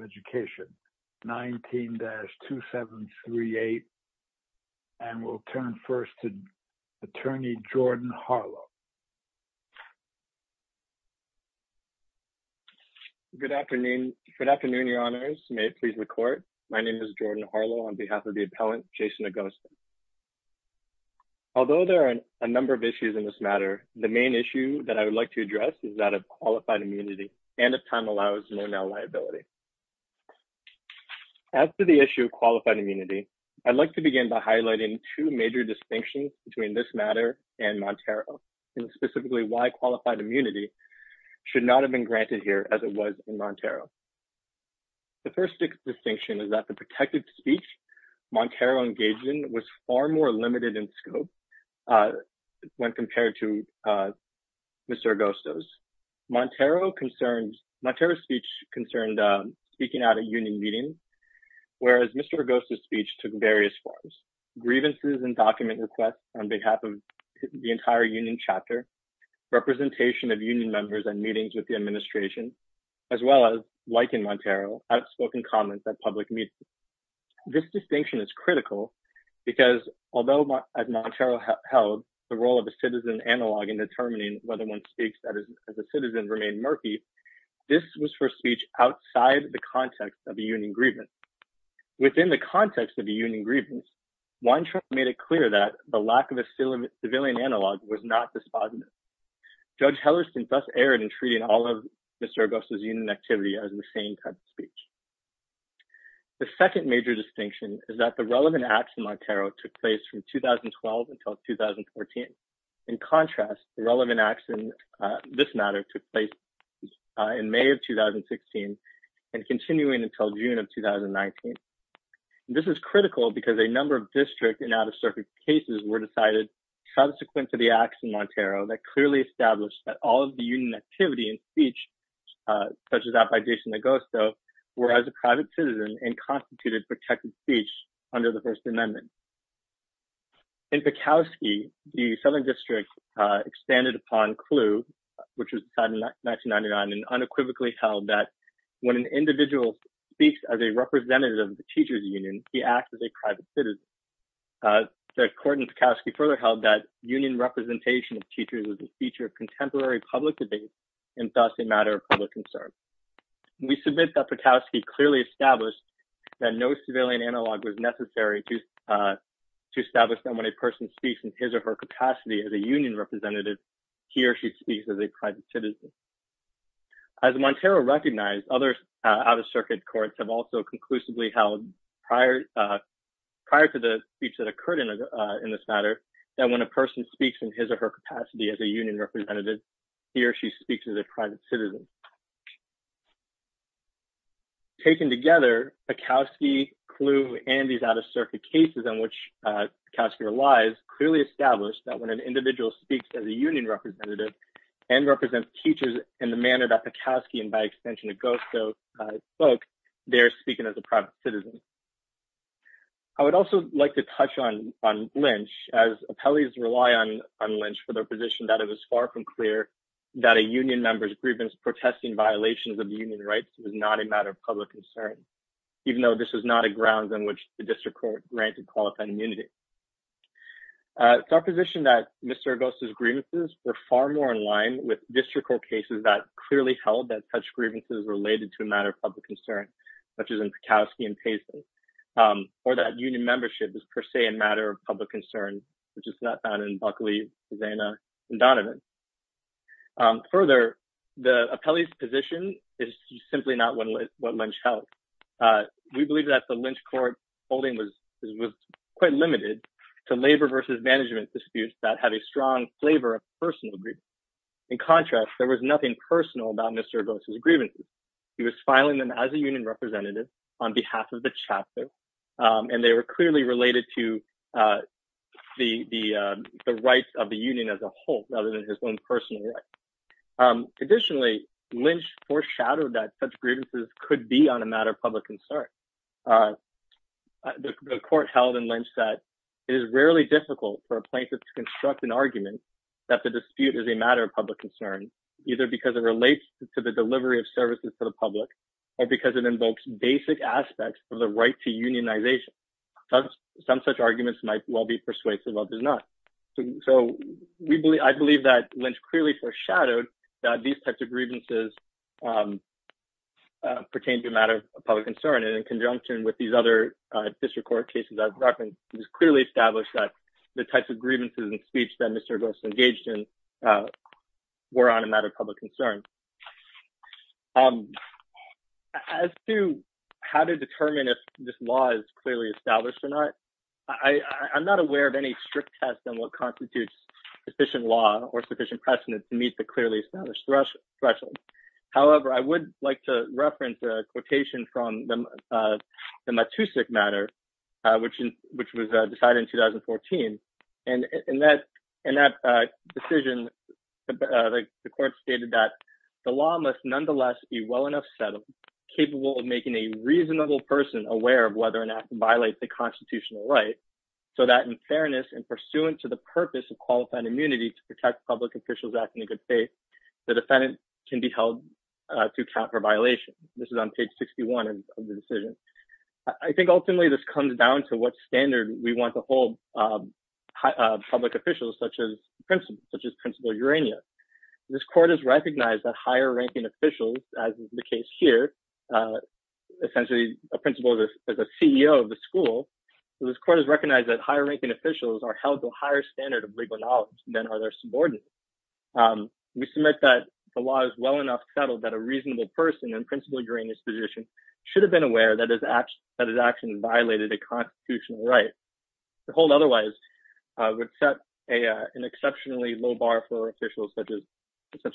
ucation, 19-2738, and we'll turn first to Attorney Jordan Harlow. Good afternoon. Good afternoon, your honors. May it please the court. My name is Jordan Harlow on behalf of the appellant, Jason Agosto. Although there are a number of issues in this matter, the main issue that I would like to address is that of qualified immunity and if time allows, no mal-liability. As to the issue of qualified immunity, I'd like to begin by highlighting two major distinctions between this matter and Montero and specifically why qualified immunity should not have been granted here as it was in Montero. The first distinction is that the protected speech Montero engaged in was far more limited in scope when compared to Mr. Agosto's. Montero's speech concerned speaking at a union meeting, whereas Mr. Agosto's speech took various forms. Grievances and document requests on behalf of the entire union chapter, representation of union members and meetings with the administration, as well as, like in Montero, outspoken comments at public meetings. This distinction is critical because although as Montero held the role of a citizen analog in determining whether one speaks as a citizen remain murky, this was for speech outside the context of a union grievance. Within the context of a union grievance, Weintraub made it clear that the lack of a civilian analog was not despondent. Judge Hellerstein thus erred in treating all of Mr. Agosto's union activity as the same type of speech. The second major distinction is that the relevant acts in Montero took place from 2012 until 2014. In contrast, the relevant acts in this matter took place in May of 2016 and continuing until June of 2019. This is critical because a number of district and out-of-circuit cases were decided subsequent to the acts in Montero that clearly established that all of the union activity and speech, such as that by Jason Agosto, were as a private citizen and constituted protected speech under the First Amendment. In Pakowski, the Southern District expanded upon CLU, which was decided in 1999, and unequivocally held that when an individual speaks as a representative of the teachers' union, he acts as a private citizen. The court in Pakowski further held that union representation of teachers was a feature of contemporary public debate and thus a matter of public concern. We submit that Pakowski clearly established that no civilian analog was necessary to establish that when a person speaks in his or her capacity as a union representative, he or she speaks as a private citizen. As Montero recognized, other out-of-circuit courts have also conclusively held prior to the speech that occurred in this matter, that when a person speaks in his or her capacity as a union representative, he or she speaks as a private citizen. Taken together, Pakowski, CLU, and these out-of-circuit cases on which Pakowski relies clearly established that when an individual speaks as a union representative and represents teachers in the manner that Pakowski and, by extension, Agosto spoke, they are speaking as a private citizen. I would also like to touch on Lynch, as appellees rely on Lynch for their position that it was far from clear that a union member's grievance protesting violations of union rights was not a matter of public concern, even though this was not a ground on which the district court granted qualified immunity. It's our position that Mr. Agosto's grievances were far more in line with district court cases that clearly held that such grievances were related to a matter of public concern, such as in Pakowski and Paisley, or that union membership is per se a matter of public concern, which is not found in Buckley, Zena, and Donovan. Further, the appellee's position is simply not what Lynch held. We believe that the Lynch court holding was quite limited to labor versus management disputes that had a strong flavor of personal grievance. In contrast, there was nothing personal about Mr. Agosto's grievances. He was filing them as a union representative on behalf of the chapter, and they were clearly related to the rights of the union as a whole, rather than his own personal rights. Additionally, Lynch foreshadowed that such grievances could be on a matter of public concern. The court held in Lynch that it is rarely difficult for a plaintiff to construct an argument that the dispute is a matter of public concern, either because it relates to the delivery of services to the public, or because it invokes basic aspects of the right to unionization. Some such arguments might well be persuasive, others not. I believe that Lynch clearly foreshadowed that these types of grievances pertain to a matter of public concern, and in conjunction with these other district court cases I've referenced, it was clearly established that the types of grievances and speech that Mr. Agosto engaged in were on a matter of public concern. As to how to determine if this law is clearly established or not, I'm not aware of any strict test on what constitutes sufficient law or sufficient precedent to meet the clearly established threshold. However, I would like to reference a quotation from the Matusik matter, which was decided in 2014. In that decision, the court stated that the law must nonetheless be well enough settled, capable of making a reasonable person aware of whether an act violates the constitutional right, so that in fairness and pursuant to the purpose of qualified immunity to protect public officials acting in good faith, the defendant can be held to account for violation. This is on page 61 of the decision. I think ultimately this comes down to what standard we want to hold public officials such as principal, such as Principal Urania. This court has recognized that higher ranking officials, as is the case here, essentially a principal is a CEO of the school. This court has recognized that higher ranking officials are held to a higher standard of legal knowledge than are their subordinates. We submit that the law is well enough settled that a reasonable person in Principal Urania's position should have been aware that his action violated a constitutional right. To hold otherwise would set an exceptionally low bar for officials such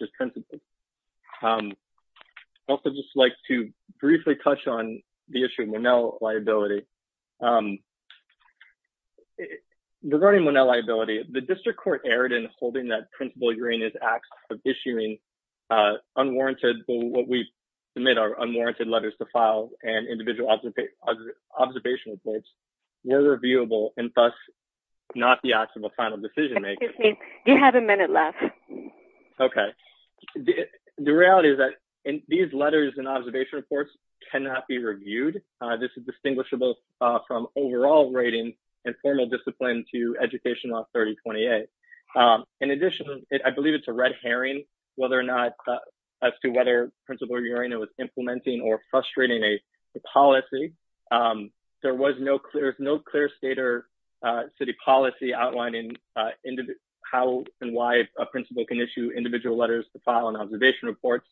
as principal. I'd also just like to briefly touch on the issue of Monell liability. Regarding Monell liability, the district court erred in holding that Principal Urania's acts of issuing unwarranted, what we submit are unwarranted letters to file and individual observation reports were reviewable and thus not the acts of a final decision maker. Excuse me, you have a minute left. Okay. The reality is that these letters and observation reports cannot be reviewed. This is distinguishable from overall rating and formal discipline to Education Law 3028. In addition, I believe it's a red herring whether or not as to whether Principal Urania was implementing or frustrating a policy. There was no clear state or city policy outlining how and why a principal can issue individual letters to file and observation reports.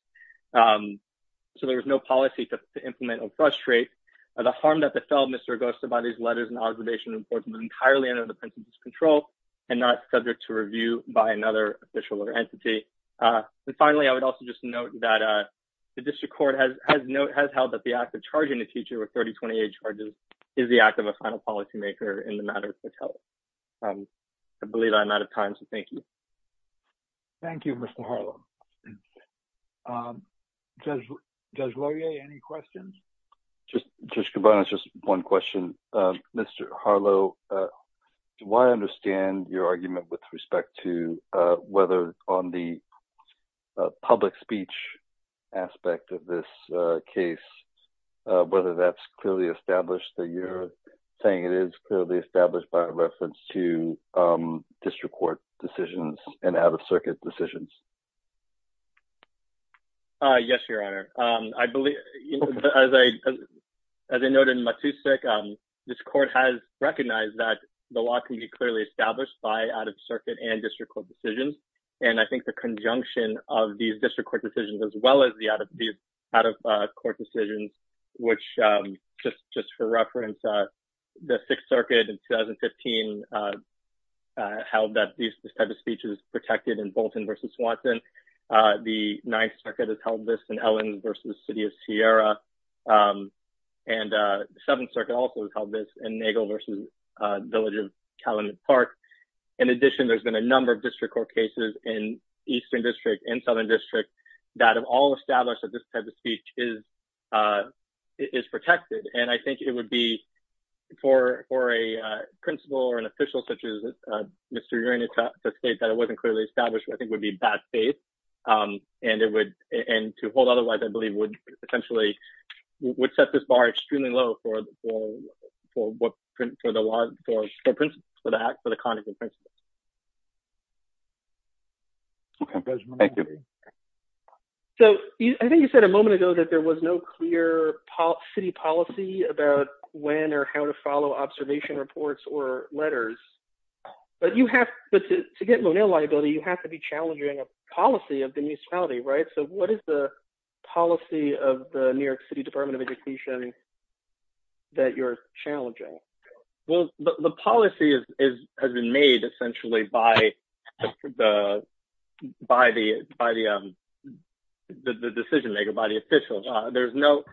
So there was no policy to implement or frustrate. The harm that befell Mr. Augusta by these letters and observation reports was entirely under the principal's control and not subject to review by another official or entity. And finally, I would also just note that the district court has held that the act of charging a teacher with 3028 charges is the act of a final policymaker in the matter of fatality. I believe I'm out of time. So thank you. Thank you, Mr. Harlow. Judge Laurier, any questions? Just one question. Mr. Harlow, do I understand your argument with respect to whether on the public speech aspect of this case, whether that's clearly established that you're saying it is clearly established by reference to district court decisions and out-of-circuit decisions? Yes, Your Honor. I believe, as I noted in Matusik, this court has recognized that the law can be clearly established by out-of-circuit and district court decisions. And I think the conjunction of these district court decisions as well as the out-of-court decisions, which just for reference, the Sixth Circuit in 2015 held that this type of speech is protected in Bolton v. Swanson. The Ninth Circuit has held this in Ellens v. City of Sierra. And the Seventh Circuit also has held this in Nagel v. Village of Calumet Park. In addition, there's been a number of district court cases in Eastern District and Southern District that have all established that this type of speech is protected. And I think it would be, for a principal or an official such as Mr. Urien to state that it wasn't clearly established, I think it would be bad faith. And to hold otherwise, I believe, would essentially set this bar extremely low for the law, for the contingent principles. So I think you said a moment ago that there was no clear city policy about when or how to follow observation reports or letters. But to get Monell liability, you have to be challenging a policy of the municipality, right? So what is the policy of the New York City Department of Education that you're challenging? Well, the policy has been made essentially by the decision maker, by the official. There's no...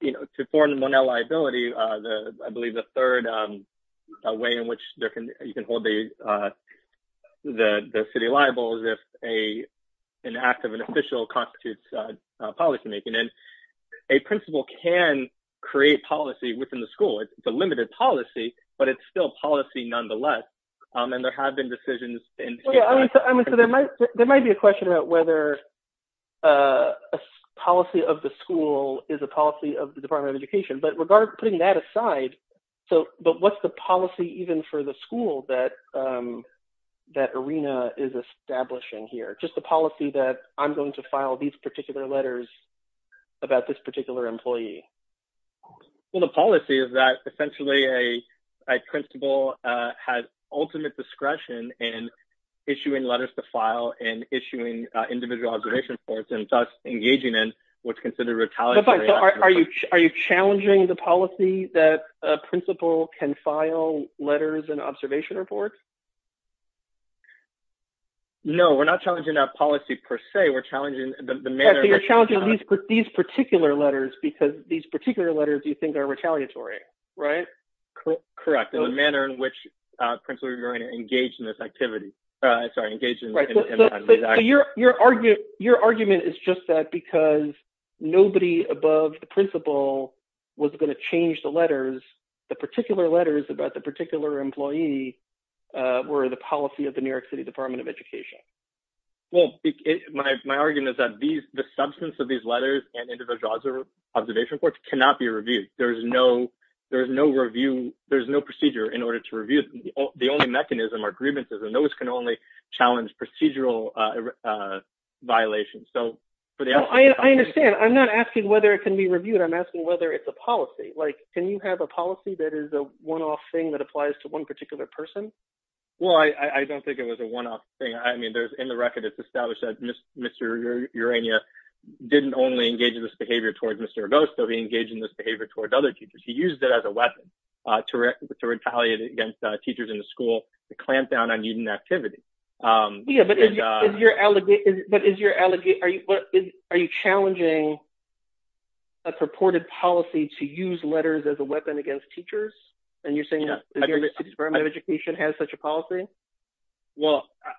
You know, to form Monell liability, I believe the third way in which you can hold the city liable is if an act of an official constitutes policymaking. And a principal can create policy within the school. It's a limited policy, but it's still policy nonetheless. And there have been decisions... I mean, so there might be a question about whether a policy of the school is a policy of the Department of Education. But regarding putting that aside, but what's the policy even for the school that IRENA is establishing here? Just the policy that I'm going to file these particular letters about this particular employee. Well, the policy is that essentially a principal has ultimate discretion in issuing letters to file and issuing individual observation reports and thus engaging in what's considered retaliatory... But are you challenging the policy that a principal can file letters and observation reports? No, we're not challenging that policy per se. We're challenging the manner... Because these particular letters you think are retaliatory, right? Correct. The manner in which a principal is going to engage in this activity... Sorry, engage in... Your argument is just that because nobody above the principal was going to change the letters, the particular letters about the particular employee were the policy of the New York City Department of Education. Well, my argument is that the substance of these letters and individual observation reports cannot be reviewed. There is no review... There is no procedure in order to review them. The only mechanism are grievances, and those can only challenge procedural violations. So for the... I understand. I'm not asking whether it can be reviewed. I'm asking whether it's a policy. Like, can you have a policy that is a one-off thing that applies to one particular person? Well, I don't think it was a one-off thing. I mean, there's... In the record, it's established that Mr. Urania didn't only engage in this behavior towards Mr. Agosto, he engaged in this behavior towards other teachers. He used it as a weapon to retaliate against teachers in the school to clamp down on student activity. Yeah, but is your allegation... Are you challenging a purported policy to use letters as a weapon against teachers? Well,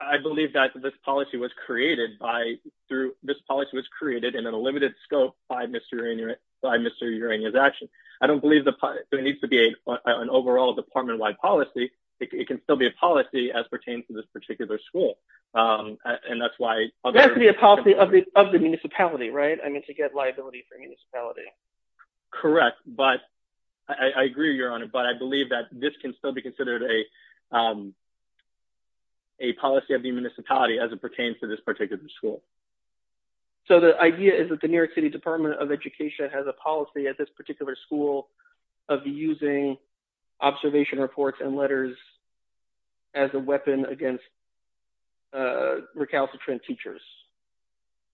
I believe that this policy was created by... Through... This policy was created in a limited scope by Mr. Urania's action. I don't believe there needs to be an overall department-wide policy. It can still be a policy as pertains to this particular school, and that's why... It has to be a policy of the municipality, right? I mean, to get liability for municipality. Correct. I agree with you, Your Honor, but I believe that this can still be considered a policy of the municipality as it pertains to this particular school. So, the idea is that the New York City Department of Education has a policy at this particular school of using observation reports and letters as a weapon against recalcitrant teachers?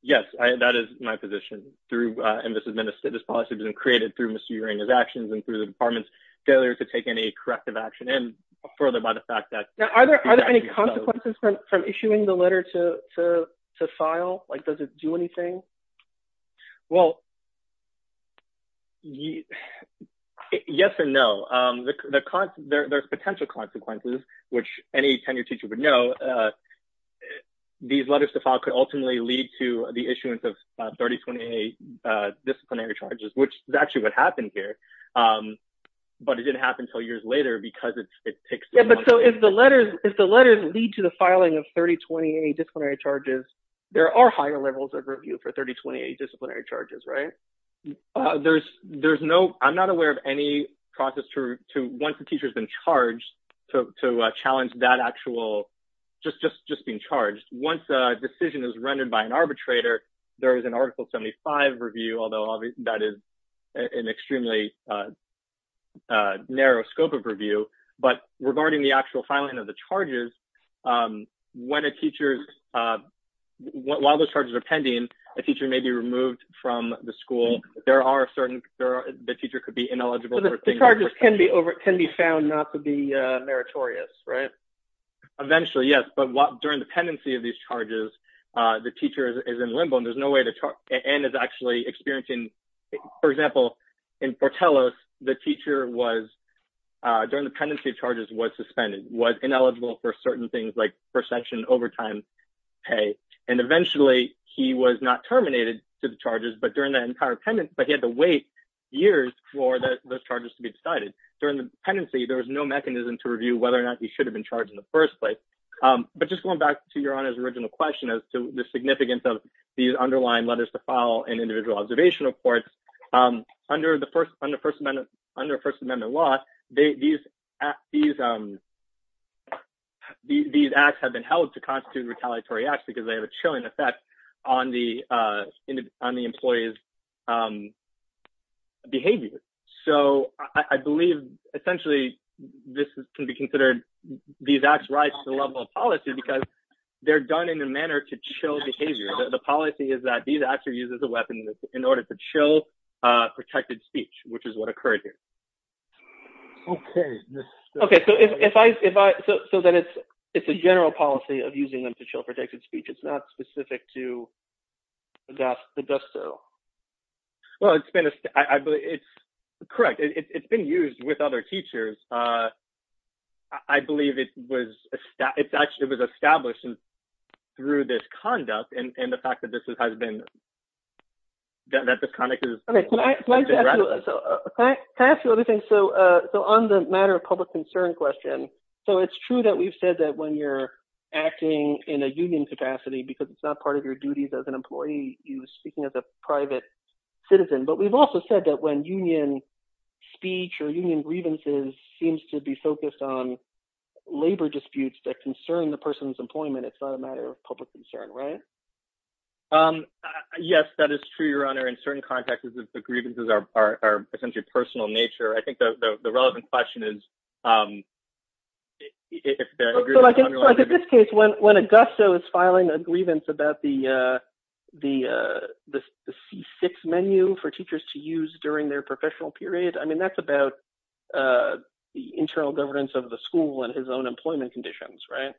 Yes, that is my position. And this has been... This policy has been created through Mr. Urania's actions and through the department's failure to take any corrective action, and further by the fact that... Now, are there any consequences from issuing the letter to file? Like, does it do anything? Well... Yes and no. There's potential consequences, which any tenured teacher would know. These letters to file could ultimately lead to the issuance of 3028 disciplinary charges, which is actually what happened here, but it didn't happen until years later because it takes... Yeah, but so if the letters lead to the filing of 3028 disciplinary charges, there are higher levels of review for 3028 disciplinary charges, right? There's no... I'm not aware of any process to... Once a teacher's been charged, to challenge that actual... Just being charged. Once a decision is rendered by an arbitrator, there is an Article 75 review, although that is an extremely narrow scope of review. But regarding the actual filing of the charges, when a teacher's... While those charges are pending, a teacher may be removed from the school. There are certain... The teacher could be ineligible for... The charges can be found not to be meritorious, right? Eventually, yes, but during the pendency of these charges, the teacher is in limbo and there's no way to... And is actually experiencing... For example, in Fortellus, the teacher was... During the pendency of charges, was suspended, was ineligible for certain things like first section overtime pay. And eventually, he was not terminated to the charges, but during that entire pendant... But he had to wait years for those charges to be decided. During the pendency, there was no mechanism to review whether or not he should have been charged in the first place. But just going back to Your Honor's original question as to the significance of these underlying letters to file and individual observation reports, under First Amendment law, these acts have been held to constitute retaliatory acts because they have a chilling effect on the employee's behavior. So, I believe, essentially, this can be considered... These acts rise to the level of policy because they're done in a manner to chill behavior. The policy is that these acts are used as a weapon in order to chill protected speech, which is what occurred here. Okay. Okay. So, then it's a general policy of using them to chill protected speech. It's not specific to the death. It does so. Well, it's been... I believe it's... Correct. It's been used with other teachers. I believe it was established through this conduct. And the fact that this has been... That this conduct is... Okay. Can I ask you another thing? So, on the matter of public concern question, so it's true that we've said that when you're acting in a union capacity, because it's not part of your duties as an employee, you're speaking as a private citizen, but we've also said that when union speech or union grievances seems to be focused on labor disputes that concern the person's employment, it's not a matter of public concern, right? Yes, that is true, Your Honor. In certain contexts, the grievances are essentially personal in nature. I think the relevant question is... So, like in this case, when Augusto is filing a grievance about the C6 menu for teachers to use during their professional period, I mean, that's about the internal governance of the school and his own employment conditions, right?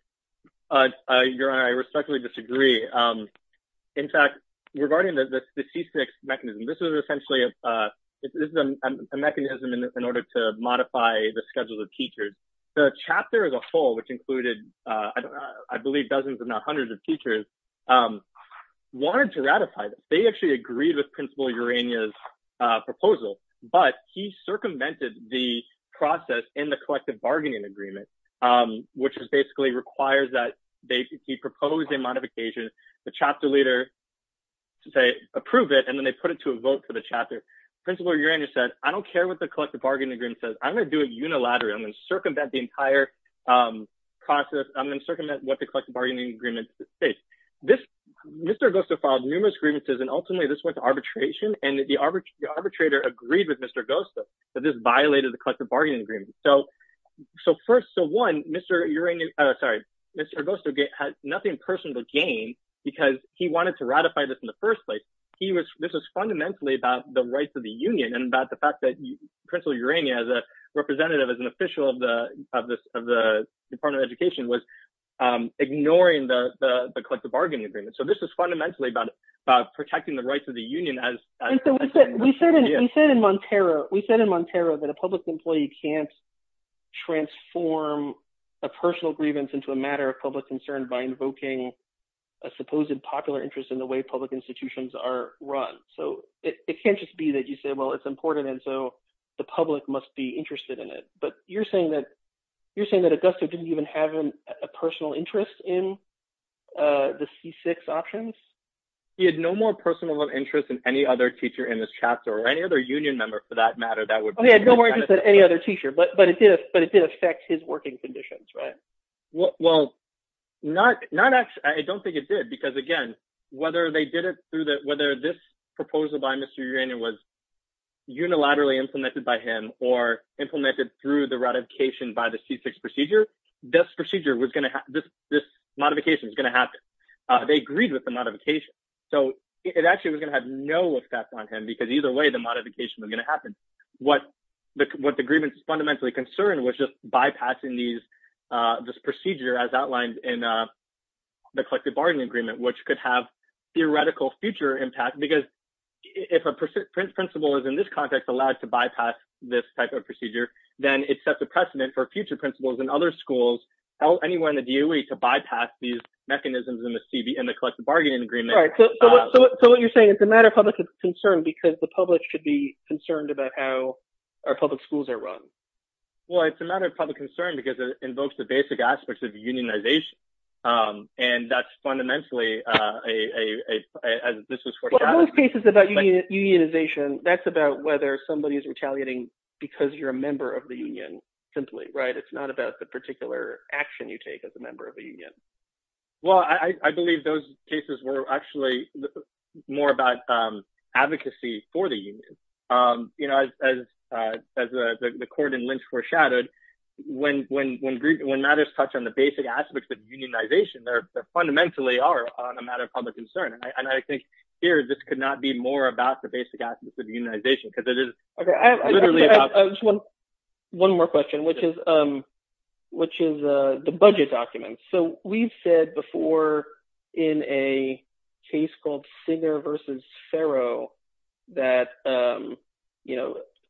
Your Honor, I respectfully disagree. In fact, regarding the C6 mechanism, this is essentially a mechanism in order to modify the schedules of teachers. The chapter as a whole, which included, I don't know, I believe dozens if not hundreds of teachers, wanted to ratify that. They actually agreed with Principal Urania's proposal, but he circumvented the process in the collective bargaining agreement, which basically requires that he propose a modification to the chapter leader to say, approve it, and then they put it to a vote for the chapter. Principal Urania said, I don't care what the collective bargaining agreement says. I'm going to do it unilaterally. I'm going to circumvent the entire process. I'm going to circumvent what the collective bargaining agreement states. Mr. Augusto filed numerous grievances, and ultimately, this went to arbitration, and the arbitrator agreed with Mr. Augusto that this violated the collective bargaining agreement. First, one, Mr. Augusto had nothing personal to gain because he wanted to ratify this in the first place. This was fundamentally about the rights of the union and about the fact that Principal Urania, as a representative, as an official of the Department of Education, was ignoring the collective bargaining agreement. This was fundamentally about protecting the rights of the union. We said in Montero that a public employee can't transform a personal grievance into a matter of public concern by invoking a supposed popular interest in the way public institutions are run. It can't just be that you say, well, it's important, and so the public must be interested in it. But you're saying that Augusto didn't even have a personal interest in the C6 options? He had no more personal interest in any other teacher in this chapter, or any other union member, for that matter. He had no more interest in any other teacher, but it did affect his working conditions, right? Well, not actually. I don't think it did because, again, whether this proposal by Mr. Urania was unilaterally implemented by him or implemented through the ratification by the C6 procedure, this modification was going to happen. They agreed with the modification, so it actually was going to have no effect on him because either way, the modification was going to happen. What the grievance was fundamentally concerned with was just bypassing this procedure as outlined in the collective bargaining agreement, which could have theoretical future impact because if a principal is, in this context, allowed to bypass this type of procedure, then it sets a precedent for future principals in other schools, anywhere in the DOE, to Right. So what you're saying is it's a matter of public concern because the public should be concerned about how our public schools are run. Well, it's a matter of public concern because it invokes the basic aspects of unionization, and that's fundamentally a... Well, in most cases about unionization, that's about whether somebody is retaliating because you're a member of the union, simply, right? Well, I believe those cases were actually more about advocacy for the union. As the court in Lynch foreshadowed, when matters touch on the basic aspects of unionization, they fundamentally are a matter of public concern, and I think here, this could not be more about the basic aspects of unionization because it is literally about... One more question, which is the budget documents. So we've said before in a case called Singer versus Farrow, that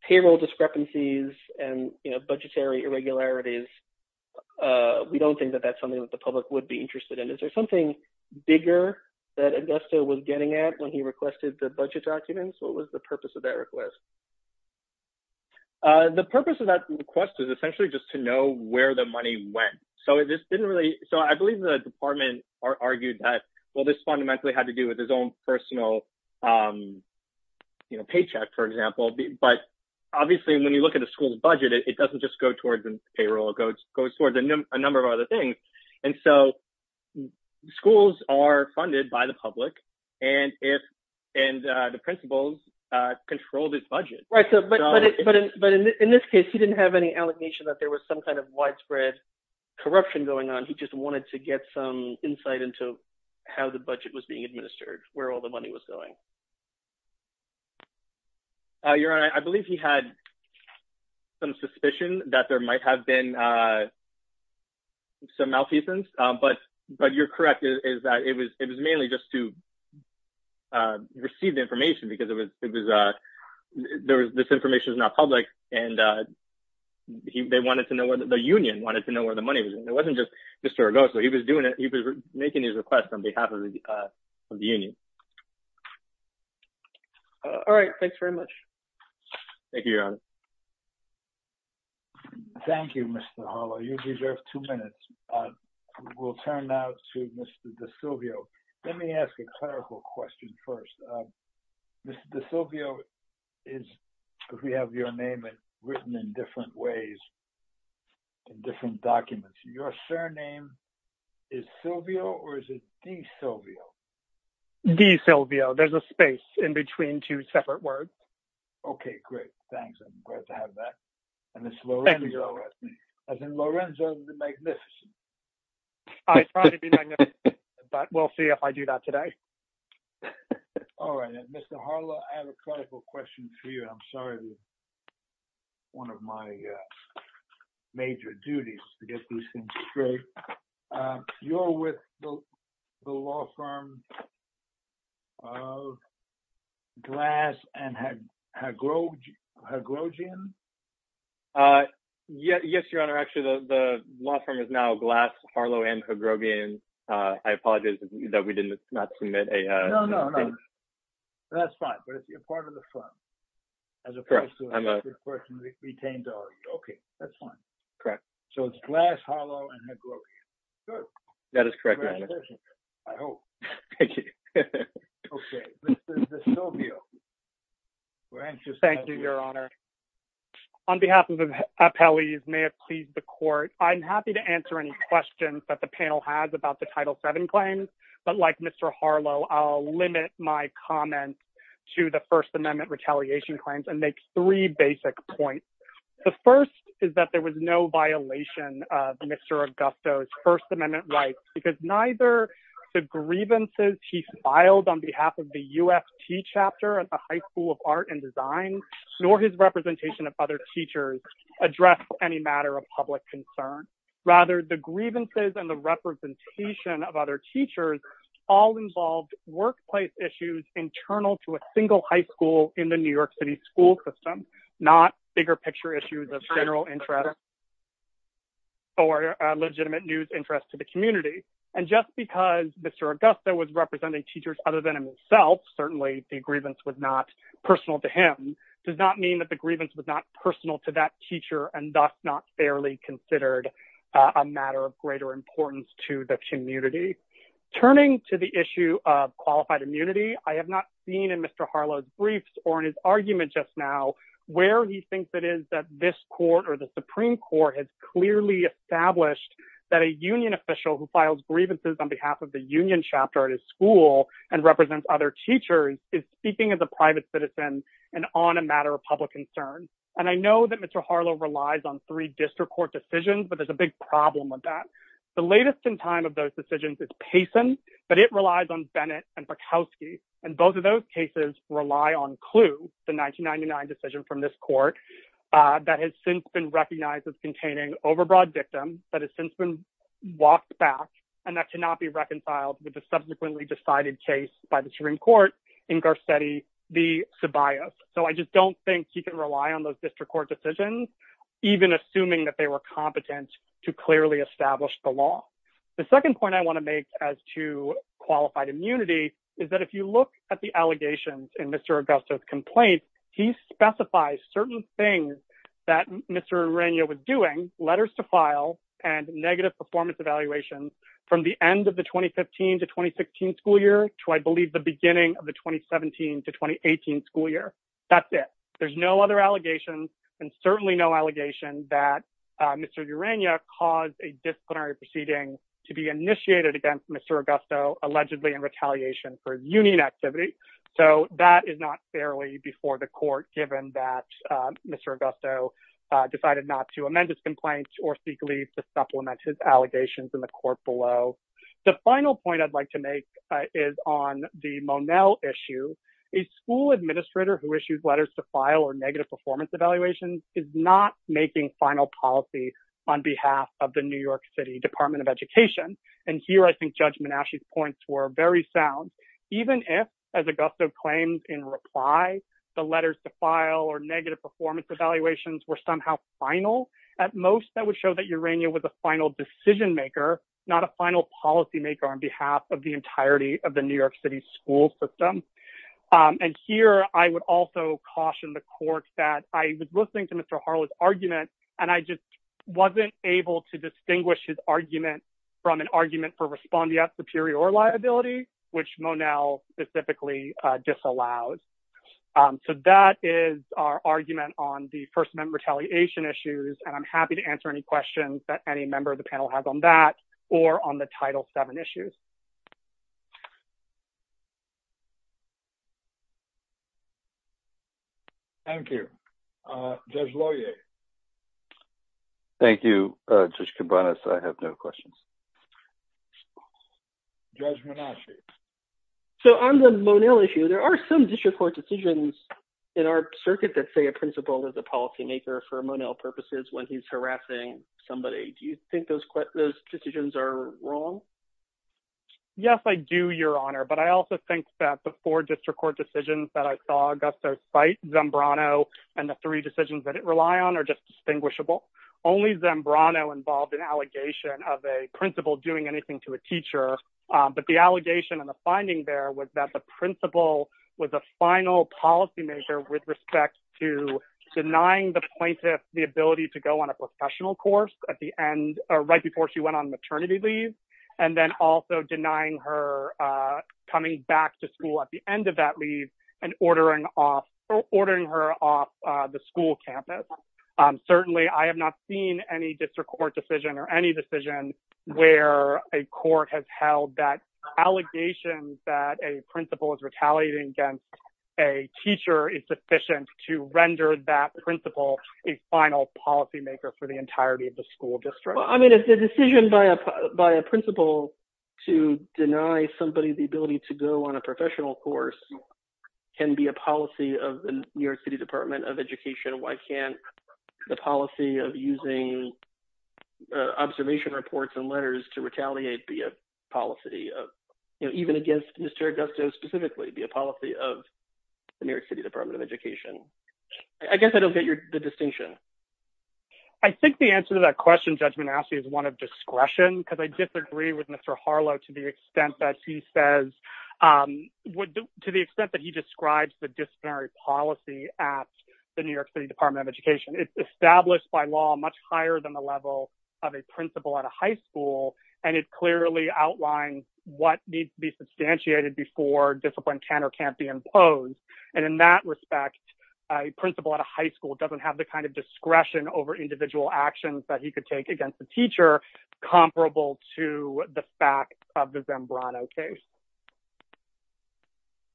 payroll discrepancies and budgetary irregularities, we don't think that that's something that the public would be interested in. Is there something bigger that Augusto was getting at when he requested the budget documents? What was the purpose of that request? The purpose of that request is essentially just to know where the money went. So I believe the department argued that, well, this fundamentally had to do with his own personal paycheck, for example. But obviously, when you look at the school's budget, it doesn't just go towards the payroll. It goes towards a number of other things. And so schools are funded by the public, and the principals control this budget. But in this case, he didn't have any allegation that there was some kind of widespread corruption going on. He just wanted to get some insight into how the budget was being administered, where all the money was going. Your Honor, I believe he had some suspicion that there might have been some malfeasance. But you're correct. It was mainly just to receive the information, because this information is not public. The union wanted to know where the money was. It wasn't just Mr. Augusto. He was making his request on behalf of the union. All right. Thanks very much. Thank you, Your Honor. Thank you, Mr. Harlow. You deserve two minutes. We'll turn now to Mr. DiSilvio. Let me ask a clerical question first. Mr. DiSilvio, we have your name written in different ways, in different documents. Your surname is Silvio, or is it DiSilvio? DiSilvio. There's a space in between two separate words. Okay, great. Thanks. I'm glad to have that. And it's Lorenzo, as in Lorenzo the Magnificent. I try to be magnificent, but we'll see if I do that today. All right. Mr. Harlow, I have a clerical question for you. I'm sorry. It's one of my major duties to get these things straight. You're with the law firm of Glass and Hagrogian? Yes, Your Honor. Actually, the law firm is now Glass, Harlow, and Hagrogian. I apologize that we did not submit a thing. No, no, no. That's fine. But you're part of the firm. Correct. Okay, that's fine. Correct. So it's Glass, Harlow, and Hagrogian. Good. That is correct, Your Honor. Congratulations. I hope. Thank you. Okay. This is DiSilvio. Thank you, Your Honor. On behalf of the appellees, may it please the court. I'm happy to answer any questions that the panel has about the Title VII claims. But like Mr. Harlow, I'll limit my comments to the First Amendment retaliation claims and make three basic points. The first is that there was no violation of Mr. Augusto's First Amendment rights, because neither the grievances he filed on behalf of the UFT chapter at the High School of Art and Design, nor his representation of other teachers, address any matter of public concern. Rather, the grievances and the representation of other teachers all involved workplace issues internal to a single high school in the New York City school system, not bigger picture issues of general interest or legitimate news interest to the community. And just because Mr. Augusto was representing teachers other than himself, certainly the grievance was not personal to him, does not mean that the grievance was not personal to that teacher and thus not fairly considered a matter of greater importance to the community. Turning to the issue of qualified immunity, I have not seen in Mr. Harlow's briefs or in his argument just now, where he thinks it is that this court or the Supreme Court has clearly established that a union official who files grievances on behalf of the union chapter at his school and represents other teachers is speaking as a private citizen and on a matter of public concern. And I know that Mr. Harlow relies on three district court decisions, but there's a big problem with that. The latest in time of those decisions is Payson, but it relies on Bennett and Bukowski, and both of those cases rely on Clu, the 1999 decision from this court, that has since been recognized as containing overbroad victim, that has since been walked back, and that cannot be reconciled with the subsequently decided case by the Supreme Court in Garcetti v. Ceballos. So I just don't think he can rely on those district court decisions, even assuming that they were competent to clearly establish the law. The second point I want to make as to qualified immunity is that if you look at the allegations in Mr. Augusto's complaint, he specifies certain things that Mr. Ureña was doing, letters to file and negative performance evaluations, from the end of the 2015 to 2016 school year to I believe the beginning of the 2017 to 2018 school year. That's it. There's no other allegations and certainly no allegation that Mr. Ureña caused a disciplinary proceeding to be initiated against Mr. Augusto, allegedly in retaliation for his union activity. So that is not fairly before the court, given that Mr. Augusto decided not to amend his complaint or seek leave to supplement his allegations in the court below. The final point I'd like to make is on the Monell issue. A school administrator who issues letters to file or negative performance evaluations is not making final policy on behalf of the New York City Department of Education. And here I think Judge Menasche's points were very sound. Even if, as Augusto claims in reply, the letters to file or negative performance evaluations were somehow final, at most that would show that Ureña was a final decision maker, not a final policymaker on behalf of the entirety of the New York City school system. And here I would also caution the court that I was listening to Mr. Harlow's argument and I just wasn't able to distinguish his argument from an argument for respondeat superior liability, which Monell specifically disallowed. So that is our argument on the First Amendment retaliation issues, and I'm happy to answer any questions that any member of the panel has on that or on the Title VII issues. Thank you. Judge Loyer. Thank you, Judge Cabanas. I have no questions. Judge Menasche. So on the Monell issue, there are some district court decisions in our circuit that say a principal is a policymaker for Monell purposes when he's harassing somebody. Do you think those decisions are wrong? Yes, I do, Your Honor. But I also think that the four district court decisions that I saw Augusto cite, Zambrano, and the three decisions that it rely on are just distinguishable. Only Zambrano involved an allegation of a principal doing anything to a teacher. But the allegation and the finding there was that the principal was a final policymaker with respect to denying the plaintiff the ability to go on a professional course at the end, right before she went on maternity leave, and then also denying her coming back to school at the end of that leave and ordering her off the school campus. Certainly, I have not seen any district court decision or any decision where a court has held that allegations that a principal is retaliating against a teacher is sufficient to render that principal a final policymaker for the entirety of the school district. Well, I mean, if the decision by a principal to deny somebody the ability to go on a professional course can be a policy of the New York City Department of Education, why can't the policy of using observation reports and letters to retaliate be a policy, even against Mr. Augusto specifically, be a policy of the New York City Department of Education? I guess I don't get the distinction. I think the answer to that question, Judge Manasseh, is one of discretion, because I disagree with Mr. Harlow to the extent that he says, to the extent that he describes the disciplinary policy at the New York City Department of Education. It's established by law much higher than the level of a principal at a high school, and it clearly outlines what needs to be substantiated before discipline can or can't be imposed. And in that respect, a principal at a high school doesn't have the kind of discretion over individual actions that he could take against the teacher, comparable to the fact of the Zambrano case.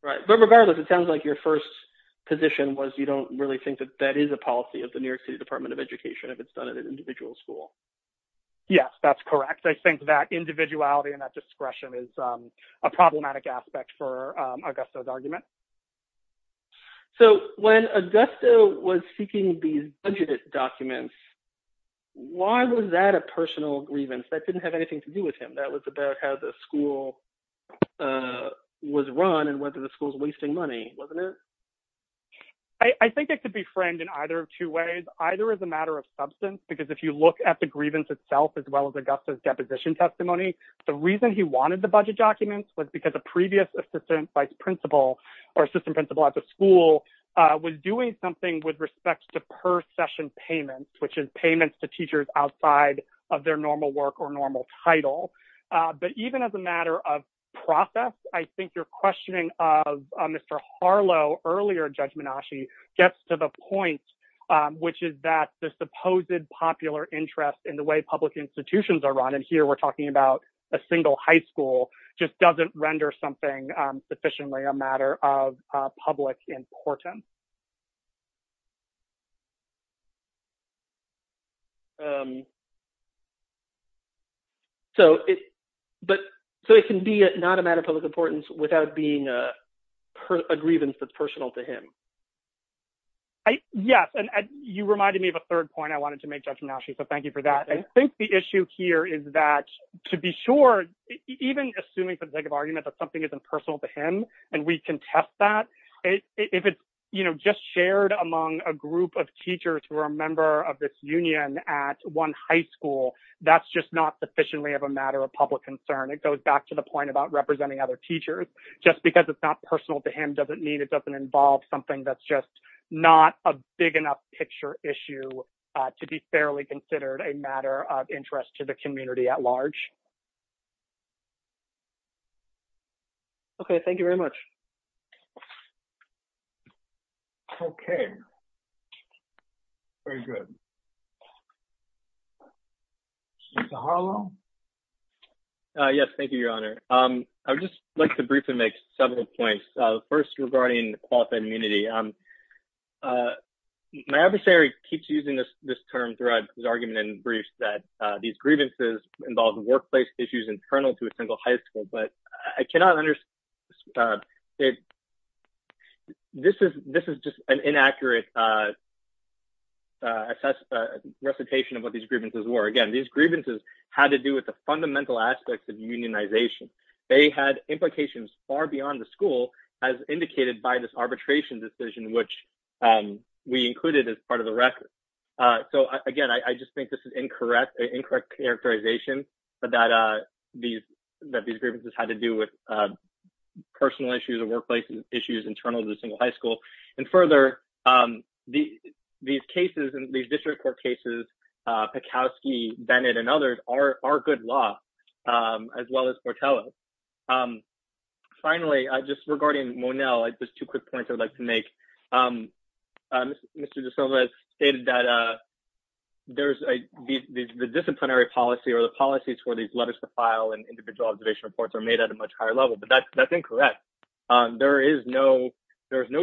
Right. But regardless, it sounds like your first position was you don't really think that that is a policy of the New York City Department of Education if it's done at an individual school. Yes, that's correct. I think that individuality and that discretion is a problematic aspect for Augusto's argument. So when Augusto was seeking these budgeted documents, why was that a personal grievance? That didn't have anything to do with him. That was about how the school was run and whether the school was wasting money, wasn't it? I think it could be framed in either of two ways, either as a matter of substance, because if you look at the grievance itself, as well as Augusto's deposition testimony, the reason he wanted the budget documents was because a previous assistant vice principal or assistant principal at the school was doing something with respect to per session payments, which is payments to teachers outside of their normal work or normal title. But even as a matter of process, I think your questioning of Mr. Harlow earlier, Judge Menasche, gets to the point, which is that the supposed popular interest in the way public institutions are run, and here we're talking about a single high school, just doesn't render something sufficiently a matter of public importance. So it can be not a matter of public importance without being a grievance that's personal to him. Yes, and you reminded me of a third point I wanted to make, Judge Menasche, so thank you for that. I think the issue here is that, to be sure, even assuming for the sake of argument that something isn't personal to him, and we can test that, if it's just shared among a group of teachers who are a member of this union at one high school, that's just not sufficiently of a matter of public concern. It goes back to the point about representing other teachers. Just because it's not personal to him doesn't mean it doesn't involve something that's just not a big enough picture issue to be fairly considered a matter of interest to the community at large. Okay, thank you very much. Okay. Very good. Mr. Harlow? Yes, thank you, Your Honor. I would just like to briefly make several points. First, regarding qualified immunity. My adversary keeps using this term throughout his argument and briefs that these grievances involve workplace issues internal to a single high school, but I cannot understand. This is just an inaccurate recitation of what these grievances were. Again, these grievances had to do with the fundamental aspects of unionization. They had implications far beyond the school, as indicated by this arbitration decision, which we included as part of the record. So, again, I just think this is incorrect characterization that these grievances had to do with personal issues or workplace issues internal to a single high school. And further, these cases, these district court cases, Pakowski, Bennett, and others, are good law, as well as Portela. Finally, just regarding Monell, just two quick points I would like to make. Mr. De Silva stated that the disciplinary policy or the policies for these letters to file and individual observation reports are made at a much higher level, but that's incorrect. There is no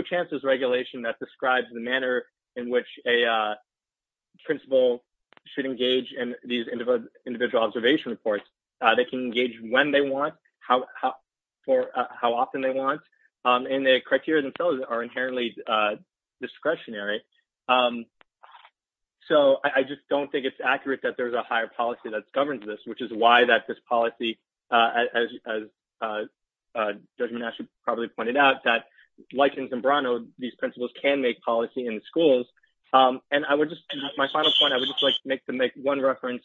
chances regulation that describes the manner in which a principal should engage in these individual observation reports. They can engage when they want, how often they want, and the criteria themselves are inherently discretionary. So, I just don't think it's accurate that there's a higher policy that governs this, which is why that this policy, as Judge Monash probably pointed out, that, like in Zambrano, these principals can make policy in the schools. And my final point, I would just like to make one reference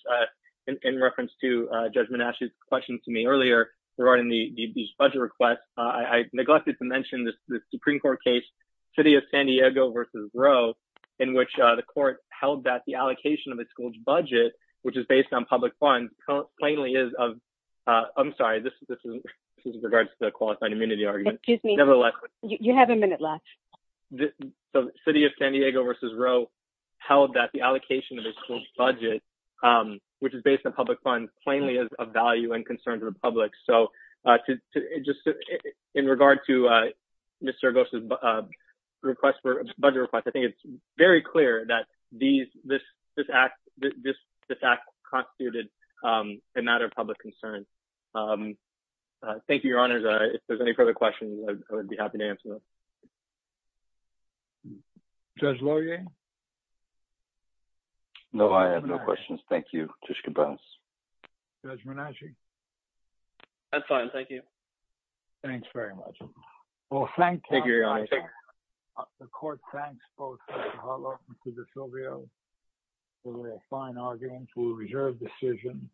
in reference to Judge Monash's question to me earlier regarding these budget requests. I neglected to mention the Supreme Court case, City of San Diego v. Roe, in which the court held that the allocation of a school's budget, which is based on public funds, plainly is of – I'm sorry, this is in regards to the qualified immunity argument. Excuse me. Nevertheless. You have a minute left. So, City of San Diego v. Roe held that the allocation of a school's budget, which is based on public funds, plainly is of value and concern to the public. So, just in regard to Mr. Argos' request for a budget request, I think it's very clear that this act constituted a matter of public concern. Thank you, Your Honors. If there's any further questions, I would be happy to answer them. Judge Laurier? No, I have no questions. Thank you. Judge Cabanes? Judge Monash? That's fine. Thank you. Well, thank you. Thank you, Your Honors. The court thanks both Mr. Harlow and Mr. Silvio for their fine arguments. We reserve the decision.